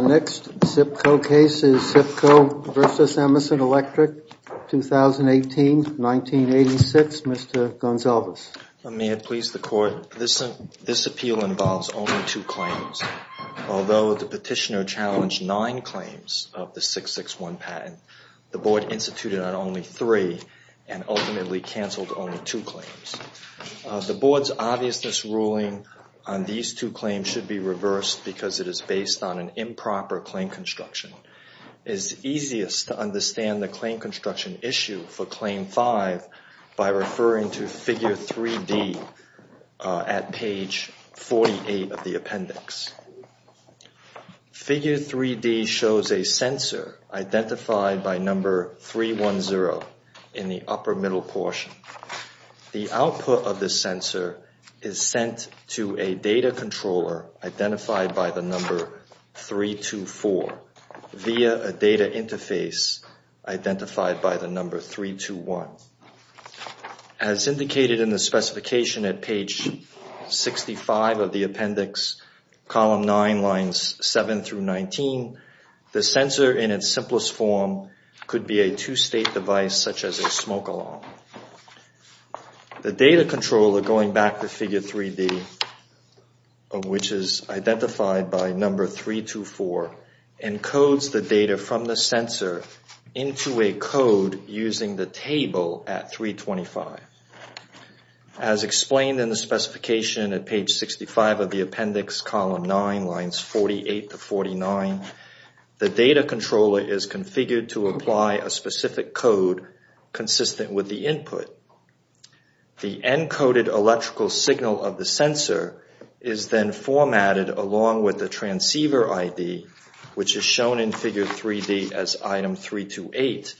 Next SIPCO case is SIPCO v. Emerson Electric, 2018-1986. Mr. Gonsalves. May it please the Court, this appeal involves only two claims. Although the petitioner challenged nine claims of the 661 patent, the Board instituted on only three and ultimately canceled only two claims. The Board's obviousness ruling on these two claims should be reversed because it is based on an improper claim construction. It is easiest to understand the claim construction issue for Claim 5 by referring to Figure 3D at page 48 of the appendix. Figure 3D shows a sensor identified by number 310 in the upper middle portion. The output of the sensor is sent to a data controller identified by the number 324 via a data interface identified by the number 321. As indicated in the specification at page 65 of the appendix, column 9, lines 7 through 19, the sensor in its simplest form could be a two-state device such as a smoke alarm. The data controller, going back to Figure 3D, which is identified by number 324, encodes the data from the sensor into a code using the table at 325. As explained in the specification at page 65 of the appendix, column 9, lines 48 to 49, the data controller is configured to apply a specific code consistent with the input. The encoded electrical signal of the sensor is then formatted along with the transceiver ID, which is shown in Figure 3D as item 328,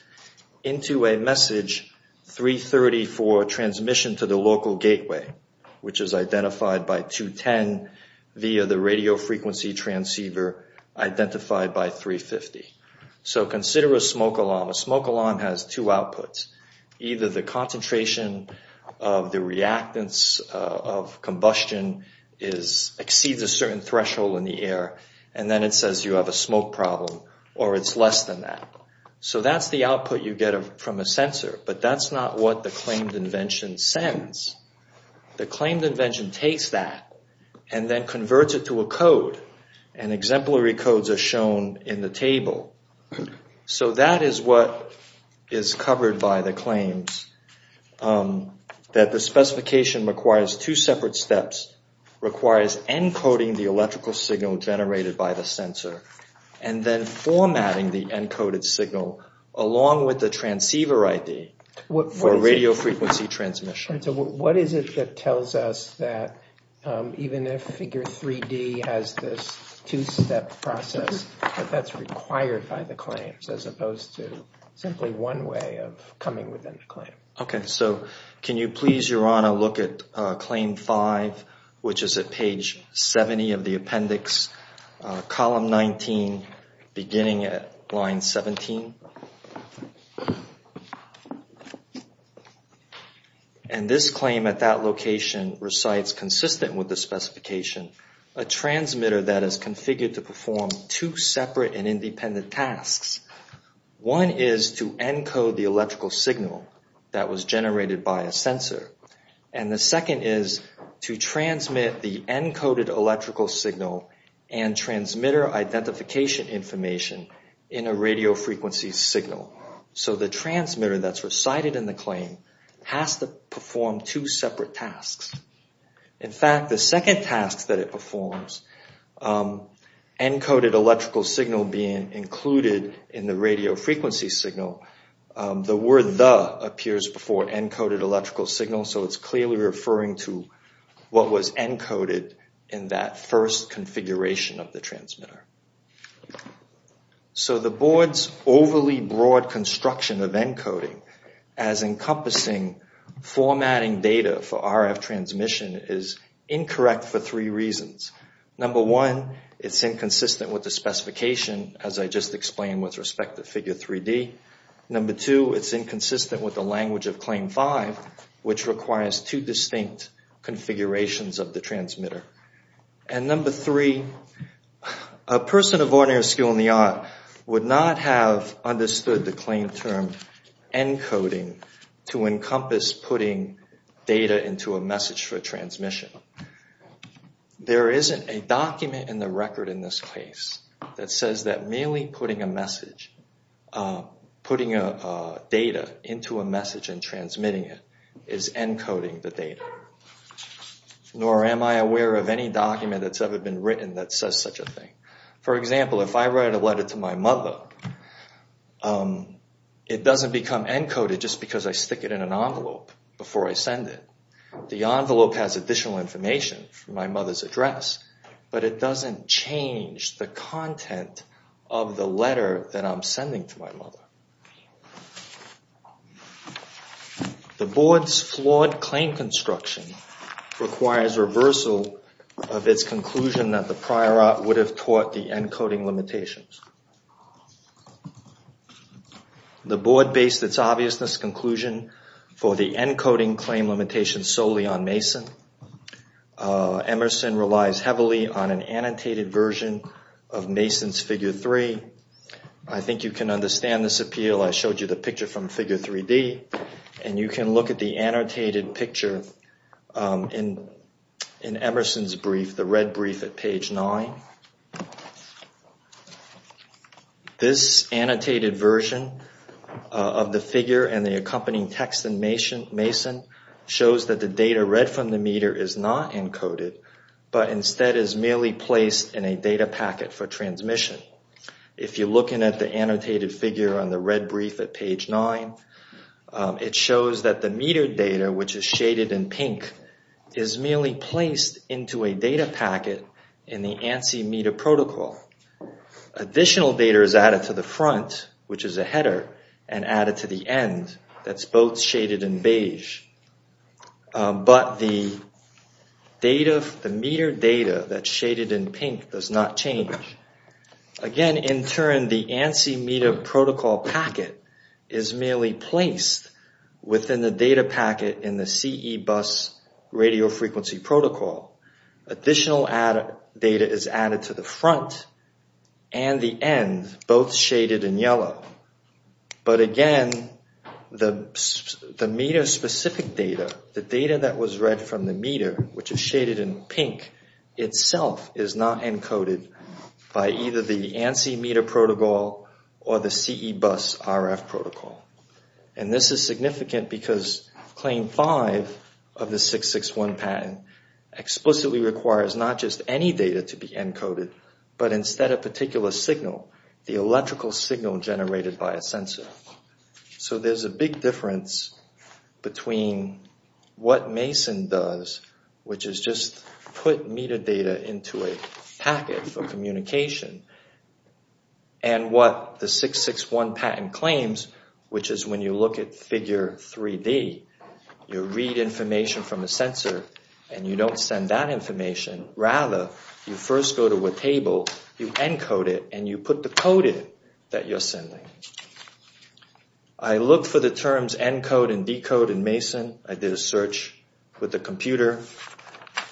into a message 330 for transmission to the local gateway, which is identified by 210 via the radio frequency transceiver identified by 350. So consider a smoke alarm. A smoke alarm has two outputs. Either the concentration of the reactants of combustion exceeds a certain threshold in the air, and then it says you have a smoke problem, or it's less than that. So that's the output you get from a sensor, but that's not what the claimed invention sends. The claimed invention takes that and then converts it to a code, and exemplary codes are shown in the table. So that is what is covered by the claims, that the specification requires two separate steps. It requires encoding the electrical signal generated by the sensor and then formatting the encoded signal along with the transceiver ID for radio frequency transmission. And so what is it that tells us that even if Figure 3D has this two-step process, that that's required by the claims, as opposed to simply one way of coming within the claim? Okay, so can you please, Your Honor, look at Claim 5, which is at page 70 of the appendix, column 19, beginning at line 17? And this claim at that location recites, consistent with the specification, a transmitter that is configured to perform two separate and independent tasks. One is to encode the electrical signal that was generated by a sensor. And the second is to transmit the encoded electrical signal and transmitter identification information in a radio frequency signal. So the transmitter that's recited in the claim has to perform two separate tasks. In fact, the second task that it performs, encoded electrical signal being included in the radio frequency signal, the word the appears before encoded electrical signal, so it's clearly referring to what was encoded in that first configuration of the transmitter. So the Board's overly broad construction of encoding as encompassing formatting data for RF transmission is incorrect for three reasons. Number one, it's inconsistent with the specification, as I just explained with respect to Figure 3D. Number two, it's inconsistent with the language of Claim 5, which requires two distinct configurations of the transmitter. And number three, a person of ordinary skill in the art would not have understood the claim term encoding to encompass putting data into a message for transmission. There isn't a document in the record in this case that says that merely putting a message, putting data into a message and transmitting it, is encoding the data. Nor am I aware of any document that's ever been written that says such a thing. For example, if I write a letter to my mother, it doesn't become encoded just because I stick it in an envelope before I send it. The envelope has additional information from my mother's address, but it doesn't change the content of the letter that I'm sending to my mother. The Board's flawed claim construction requires reversal of its conclusion that the prior art would have taught the encoding limitations. The Board based its obviousness conclusion for the encoding claim limitation solely on Mason. Emerson relies heavily on an annotated version of Mason's Figure 3. I think you can understand this appeal. I showed you the picture from Figure 3D. And you can look at the annotated picture in Emerson's brief, the red brief at page 9. This annotated version of the figure and the accompanying text in Mason shows that the data read from the meter is not encoded, but instead is merely placed in a data packet for transmission. If you're looking at the annotated figure on the red brief at page 9, it shows that the metered data, which is shaded in pink, is merely placed into a data packet in the ANSI meter protocol. Additional data is added to the front, which is a header, and added to the end, that's both shaded in beige. But the metered data that's shaded in pink does not change. Again, in turn, the ANSI meter protocol packet is merely placed within the data packet in the CE bus radio frequency protocol. Additional data is added to the front and the end, both shaded in yellow. But again, the meter-specific data, the data that was read from the meter, which is shaded in pink, itself is not encoded by either the ANSI meter protocol or the CE bus RF protocol. And this is significant because Claim 5 of the 661 patent explicitly requires not just any data to be encoded, but instead a particular signal, the electrical signal generated by a sensor. So there's a big difference between what Mason does, which is just put metered data into a packet for communication, and what the 661 patent claims, which is when you look at figure 3D, you read information from a sensor and you don't send that information. Rather, you first go to a table, you encode it, and you put the code in that you're sending. I looked for the terms encode and decode in Mason. I did a search with the computer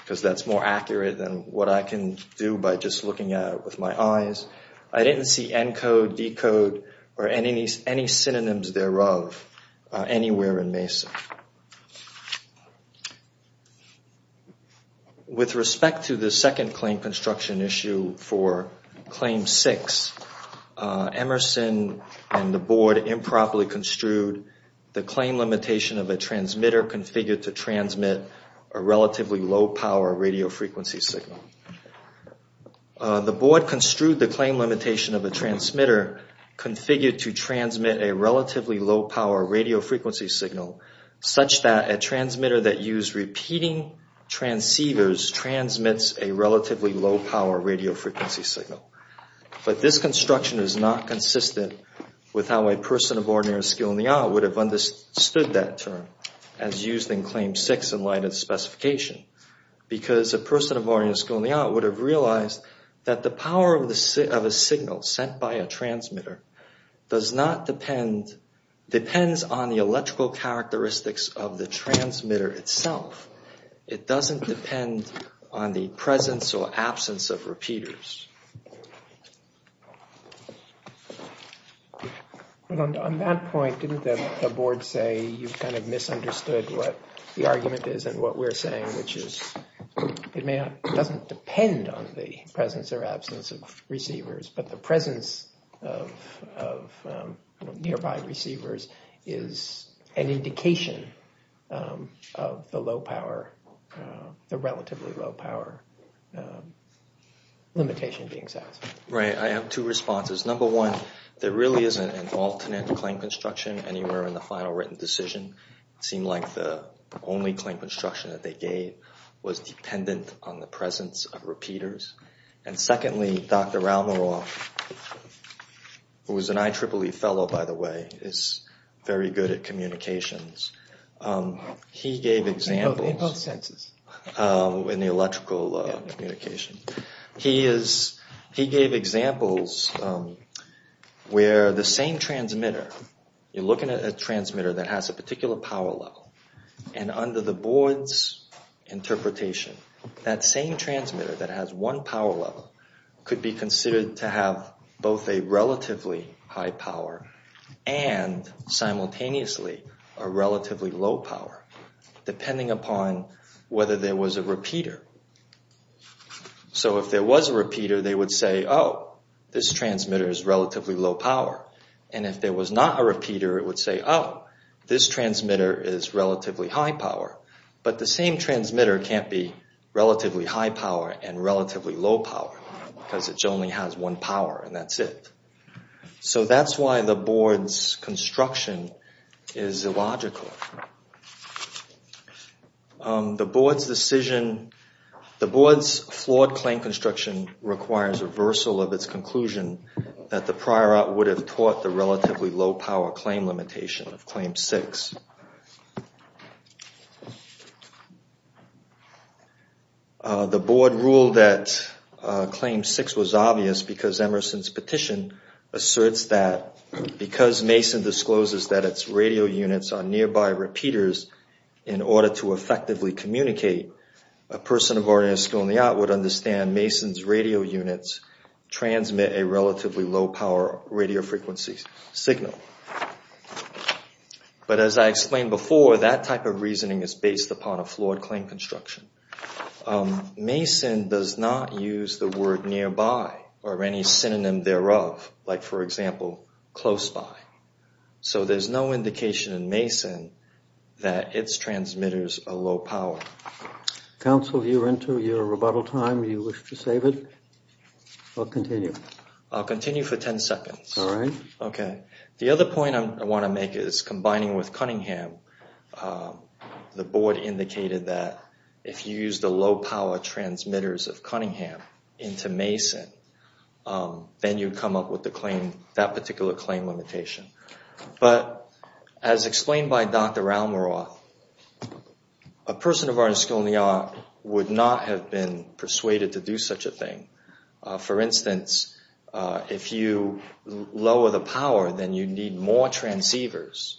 because that's more accurate than what I can do by just looking at it with my eyes. I didn't see encode, decode, or any synonyms thereof anywhere in Mason. With respect to the second claim construction issue for Claim 6, Emerson and the board improperly construed the claim limitation of a transmitter configured to transmit a relatively low power radio frequency signal. The board construed the claim limitation of a transmitter configured to transmit a relatively low power radio frequency signal such that a transmitter that used repeating transceivers transmits a relatively low power radio frequency signal. But this construction is not consistent with how a person of ordinary skill in the art would have understood that term as used in Claim 6 in light of the specification. Because a person of ordinary skill in the art would have realized that the power of a signal sent by a transmitter depends on the electrical characteristics of the transmitter itself. It doesn't depend on the presence or absence of repeaters. On that point, didn't the board say you've kind of misunderstood what the argument is and what we're saying, which is it doesn't depend on the presence or absence of receivers, but the presence of nearby receivers is an indication of the relatively low power limitation being used. Right, I have two responses. Number one, there really isn't an alternate claim construction anywhere in the final written decision. It seemed like the only claim construction that they gave was dependent on the presence of repeaters. And secondly, Dr. Ralmaroff, who is an IEEE fellow, by the way, is very good at communications. He gave examples in the electrical communication. He gave examples where the same transmitter, you're looking at a transmitter that has a particular power level, and under the board's interpretation, that same transmitter that has one power level could be considered to have both a relatively high power and simultaneously a relatively low power, depending upon whether there was a repeater. So if there was a repeater, they would say, oh, this transmitter is relatively low power. And if there was not a repeater, it would say, oh, this transmitter is relatively high power. But the same transmitter can't be relatively high power and relatively low power because it only has one power, and that's it. So that's why the board's construction is illogical. The board's decision, the board's flawed claim construction requires reversal of its conclusion that the prior art would have taught the relatively low power claim limitation of Claim 6. The board ruled that Claim 6 was obvious because Emerson's petition asserts that because Mason discloses that its radio units are nearby repeaters, in order to effectively communicate, a person of ordinary skill in the art would understand Mason's radio units transmit a relatively low power radio frequency signal. But as I explained before, that type of reasoning is based upon a flawed claim construction. Mason does not use the word nearby or any synonym thereof, like, for example, close by. So there's no indication in Mason that its transmitters are low power. Counsel, you're into your rebuttal time. Do you wish to save it or continue? I'll continue for 10 seconds. All right. Okay. The other point I want to make is combining with Cunningham, the board indicated that if you use the low power transmitters of Cunningham into Mason, then you'd come up with that particular claim limitation. But as explained by Dr. Almaroth, a person of ordinary skill in the art would not have been persuaded to do such a thing. For instance, if you lower the power, then you need more transceivers.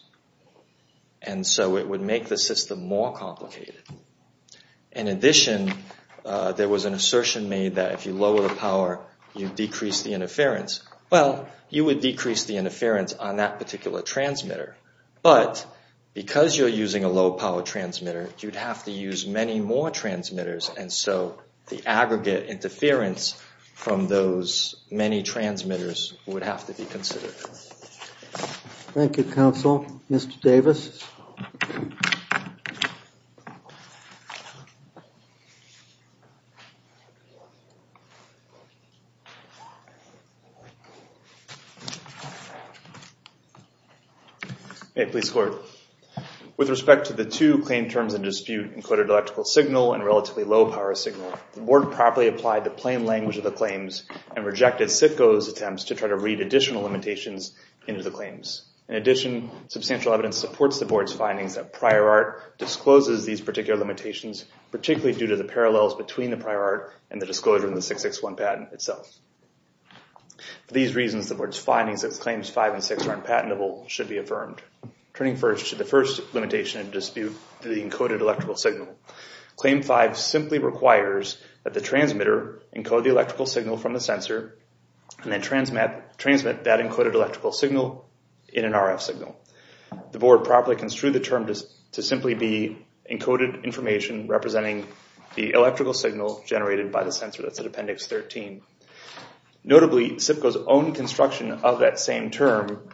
And so it would make the system more complicated. In addition, there was an assertion made that if you lower the power, you decrease the interference. Well, you would decrease the interference on that particular transmitter. But because you're using a low power transmitter, you'd have to use many more transmitters. And so the aggregate interference from those many transmitters would have to be considered. Thank you, Counsel. Mr. Davis? Hey, Police Court. With respect to the two claim terms in dispute, encoded electrical signal and relatively low power signal, the board properly applied the plain language of the claims and rejected CITCO's attempts to try to read additional limitations into the claims. In addition, substantial evidence supports the board's findings that prior art discloses these particular limitations, particularly due to the parallels between the prior art and the disclosure in the 661 patent itself. For these reasons, the board's findings of Claims 5 and 6 are unpatentable should be affirmed. Turning first to the first limitation in dispute, the encoded electrical signal. Claim 5 simply requires that the transmitter encode the electrical signal from the sensor and then transmit that encoded electrical signal in an RF signal. The board properly construed the term to simply be encoded information representing the electrical signal generated by the sensor. That's at Appendix 13. Notably, CITCO's own construction of that same term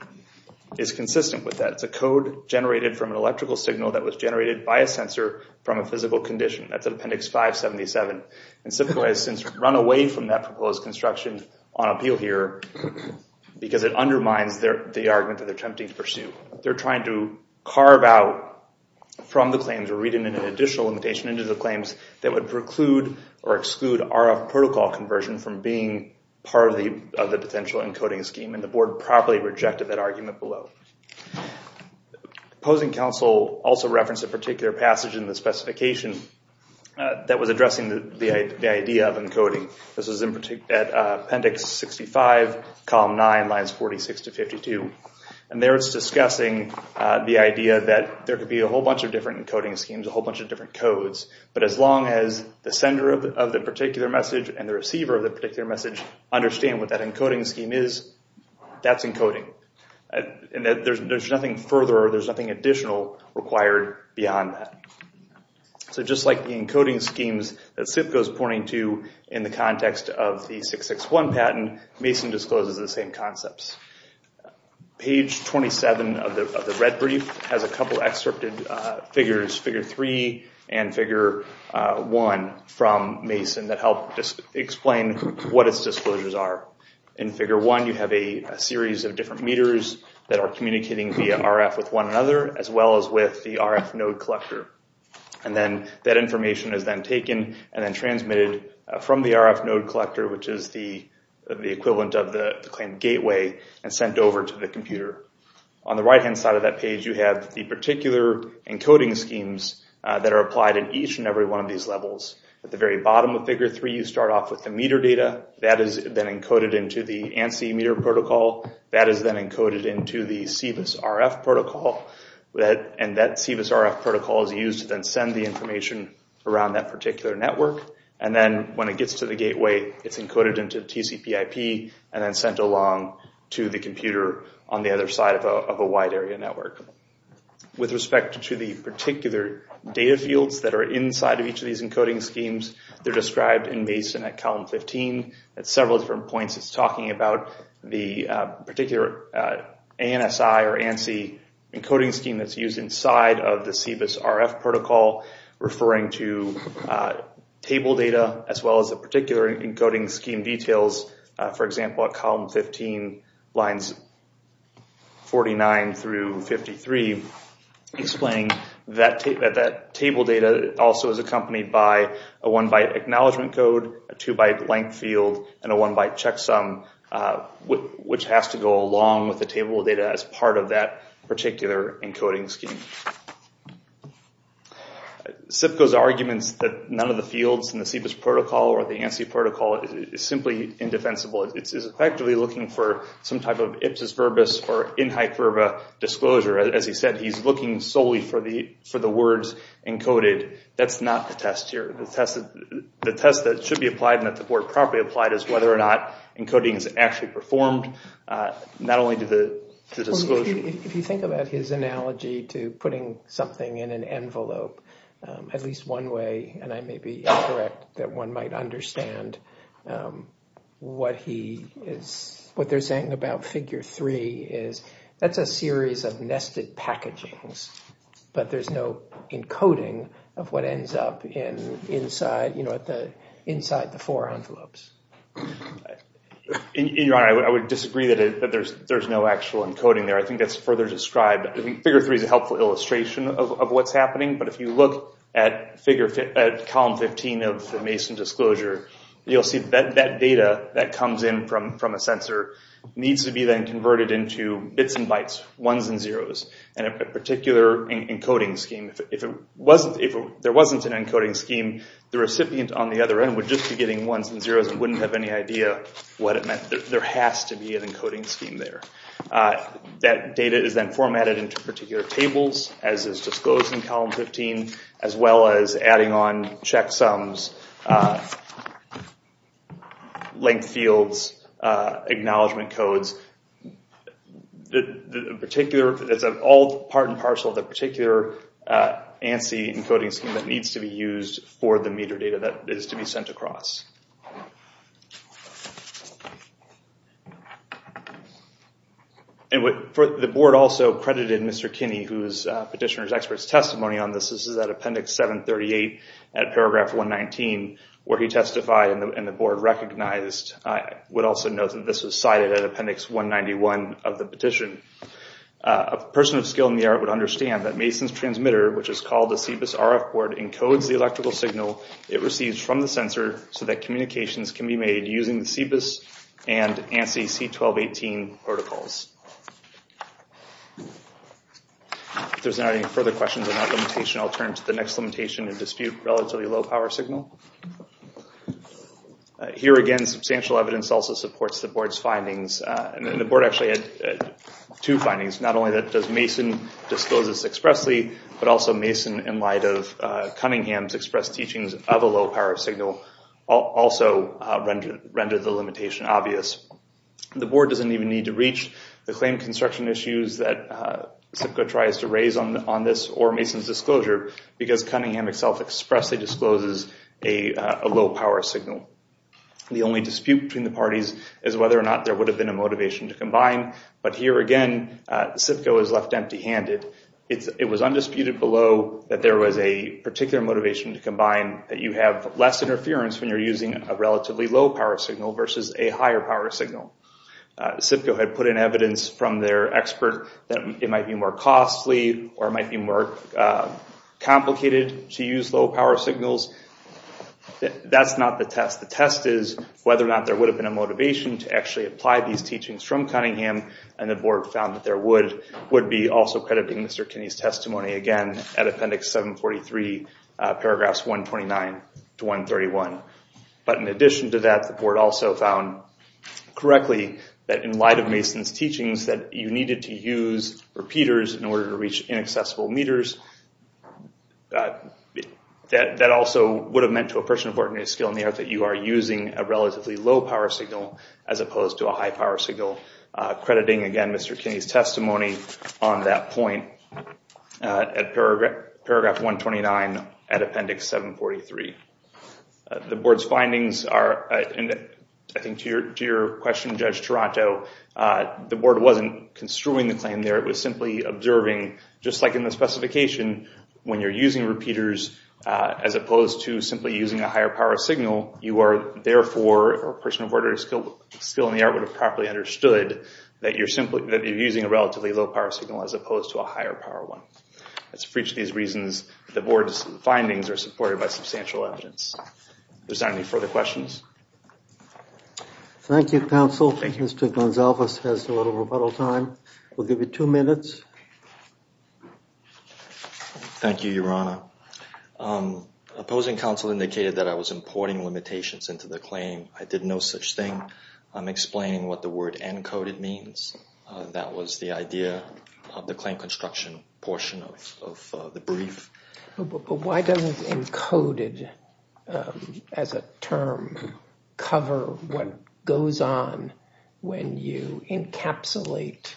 is consistent with that. It's a code generated from an electrical signal that was generated by a sensor from a physical condition. That's at Appendix 577. CITCO has since run away from that proposed construction on appeal here because it undermines the argument that they're attempting to pursue. They're trying to carve out from the claims or read an additional limitation into the claims that would preclude or exclude RF protocol conversion from being part of the potential encoding scheme. The board properly rejected that argument below. Opposing counsel also referenced a particular passage in the specification that was addressing the idea of encoding. This is at Appendix 65, Column 9, Lines 46 to 52. There it's discussing the idea that there could be a whole bunch of different encoding schemes, a whole bunch of different codes, but as long as the sender of the particular message and the receiver of the particular message understand what that encoding scheme is, that's encoding. There's nothing further or there's nothing additional required beyond that. Just like the encoding schemes that CITCO's pointing to in the context of the 661 patent, Mason discloses the same concepts. Page 27 of the red brief has a couple of excerpted figures, figure 3 and figure 1 from Mason that help explain what its disclosures are. In figure 1, you have a series of different meters that are communicating via RF with one another as well as with the RF node collector. That information is then taken and then transmitted from the RF node collector, which is the equivalent of the claim gateway, and sent over to the computer. On the right-hand side of that page, you have the particular encoding schemes that are applied in each and every one of these levels. At the very bottom of figure 3, you start off with the meter data. That is then encoded into the ANSI meter protocol. That is then encoded into the CBIS RF protocol, and that CBIS RF protocol is used to then send the information around that particular network. And then when it gets to the gateway, it's encoded into TCPIP and then sent along to the computer on the other side of a wide area network. With respect to the particular data fields that are inside of each of these encoding schemes, they're described in Mason at column 15. At several different points, it's talking about the particular ANSI encoding scheme that's used inside of the CBIS RF protocol, referring to table data as well as the particular encoding scheme details. For example, at column 15, lines 49 through 53, explaining that table data also is accompanied by a 1-byte acknowledgement code, a 2-byte length field, and a 1-byte checksum, which has to go along with the table data as part of that particular encoding scheme. CIPCO's arguments that none of the fields in the CBIS protocol or the ANSI protocol is simply indefensible. It's effectively looking for some type of ipsis verbis or in hyperba disclosure. As he said, he's looking solely for the words encoded. That's not the test here. The test that should be applied and that the board properly applied is whether or not encoding is actually performed, not only to the disclosure. If you think about his analogy to putting something in an envelope, at least one way, and I may be incorrect, that one might understand what they're saying about figure three is that's a series of nested packagings, but there's no encoding of what ends up inside the four envelopes. Your Honor, I would disagree that there's no actual encoding there. I think that's further described. Figure three is a helpful illustration of what's happening, but if you look at column 15 of the Mason disclosure, you'll see that data that comes in from a sensor needs to be then converted into bits and bytes, ones and zeros, and a particular encoding scheme. If there wasn't an encoding scheme, the recipient on the other end would just be getting ones and zeros and wouldn't have any idea what it meant. There has to be an encoding scheme there. That data is then formatted into particular tables, as is disclosed in column 15, as well as adding on checksums, length fields, acknowledgement codes. It's all part and parcel of the particular ANSI encoding scheme that needs to be used for the meter data that is to be sent across. The board also credited Mr. Kinney, who is Petitioner's Expert's testimony on this. This is at appendix 738 at paragraph 119, where he testified and the board recognized. I would also note that this was cited at appendix 191 of the petition. A person of skill in the art would understand that Mason's transmitter, which is called the CBIS RF board, encodes the electrical signal it receives from the sensor so that communications can be made using the CBIS and ANSI C1218 protocols. If there's not any further questions on that limitation, I'll turn to the next limitation in dispute, relatively low power signal. Here again, substantial evidence also supports the board's findings. The board actually had two findings. Not only does Mason disclose this expressly, but also Mason, in light of Cunningham's expressed teachings of a low power signal, also rendered the limitation obvious. The board doesn't even need to reach the claim construction issues that CIPCO tries to raise on this, or Mason's disclosure, because Cunningham itself expressly discloses a low power signal. The only dispute between the parties is whether or not there would have been a motivation to combine, but here again, CIPCO is left empty-handed. It was undisputed below that there was a particular motivation to combine, that you have less interference when you're using a relatively low power signal versus a higher power signal. CIPCO had put in evidence from their expert that it might be more costly, or it might be more complicated to use low power signals. That's not the test. The test is whether or not there would have been a motivation to actually apply these teachings from Cunningham, and the board found that there would be. Also crediting Mr. Kinney's testimony, again, at Appendix 743, paragraphs 129 to 131. But in addition to that, the board also found correctly that in light of Mason's teachings, that you needed to use repeaters in order to reach inaccessible meters. That also would have meant to a person of ordinary skill on the earth that you are using a relatively low power signal, as opposed to a high power signal. Crediting, again, Mr. Kinney's testimony on that point at paragraph 129 at Appendix 743. The board's findings are, and I think to your question, Judge Taranto, the board wasn't construing the claim there. It was simply observing, just like in the specification, when you're using repeaters as opposed to simply using a higher power signal, you are therefore, or a person of ordinary skill on the earth would have properly understood, that you're using a relatively low power signal as opposed to a higher power one. That's for each of these reasons. The board's findings are supported by substantial evidence. If there's not any further questions. Thank you, counsel. Thank you. Mr. Gonsalves has a little rebuttal time. We'll give you two minutes. Thank you, Your Honor. Opposing counsel indicated that I was importing limitations into the claim. I did no such thing. I'm explaining what the word encoded means. That was the idea of the claim construction portion of the brief. But why doesn't encoded as a term cover what goes on when you encapsulate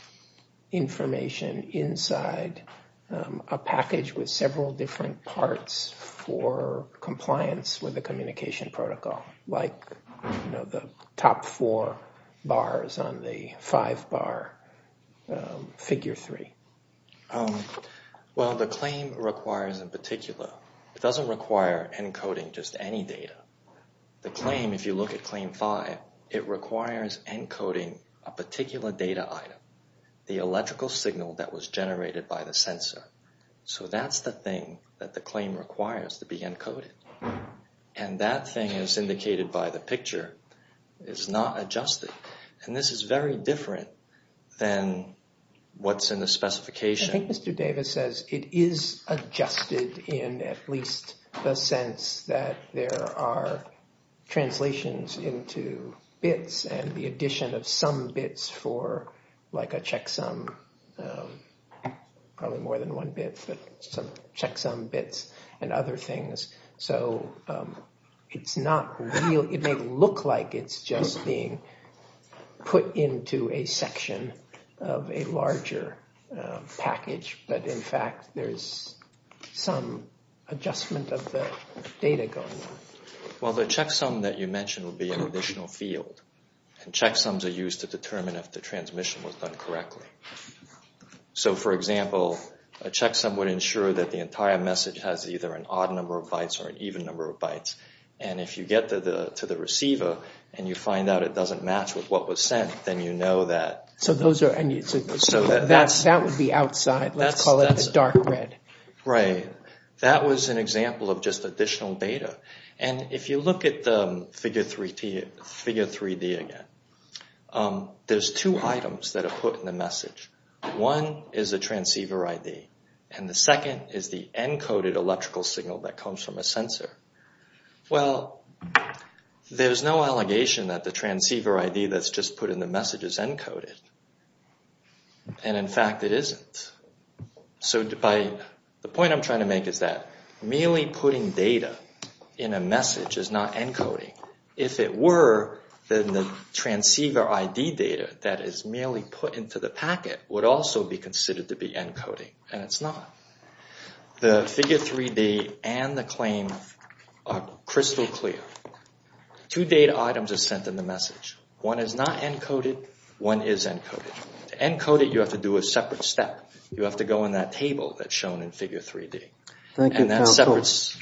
information inside a package with several different parts for compliance with the communication protocol, like the top four bars on the five bar figure three? Well, the claim requires a particular. It doesn't require encoding just any data. The claim, if you look at claim five, it requires encoding a particular data item, the electrical signal that was generated by the sensor. So that's the thing that the claim requires to be encoded. And that thing, as indicated by the picture, is not adjusted. And this is very different than what's in the specification. I think Mr. Davis says it is adjusted in at least the sense that there are translations into bits and the addition of some bits for like a checksum, probably more than one bit, but some checksum bits and other things. So it may look like it's just being put into a section of a larger package, but in fact there's some adjustment of the data going on. Well, the checksum that you mentioned would be an additional field. And checksums are used to determine if the transmission was done correctly. So, for example, a checksum would ensure that the entire message has either an odd number of bytes or an even number of bytes. And if you get to the receiver and you find out it doesn't match with what was sent, then you know that. So that would be outside. Let's call it the dark red. Right. That was an example of just additional data. And if you look at the figure 3D again, there's two items that are put in the message. One is a transceiver ID, and the second is the encoded electrical signal that comes from a sensor. Well, there's no allegation that the transceiver ID that's just put in the message is encoded. And in fact it isn't. So the point I'm trying to make is that merely putting data in a message is not encoding. If it were, then the transceiver ID data that is merely put into the packet would also be considered to be encoding. And it's not. The figure 3D and the claim are crystal clear. Two data items are sent in the message. One is not encoded. One is encoded. To encode it, you have to do a separate step. You have to go on that table that's shown in figure 3D. Thank you, counsel. And that's separate. The case is submitted.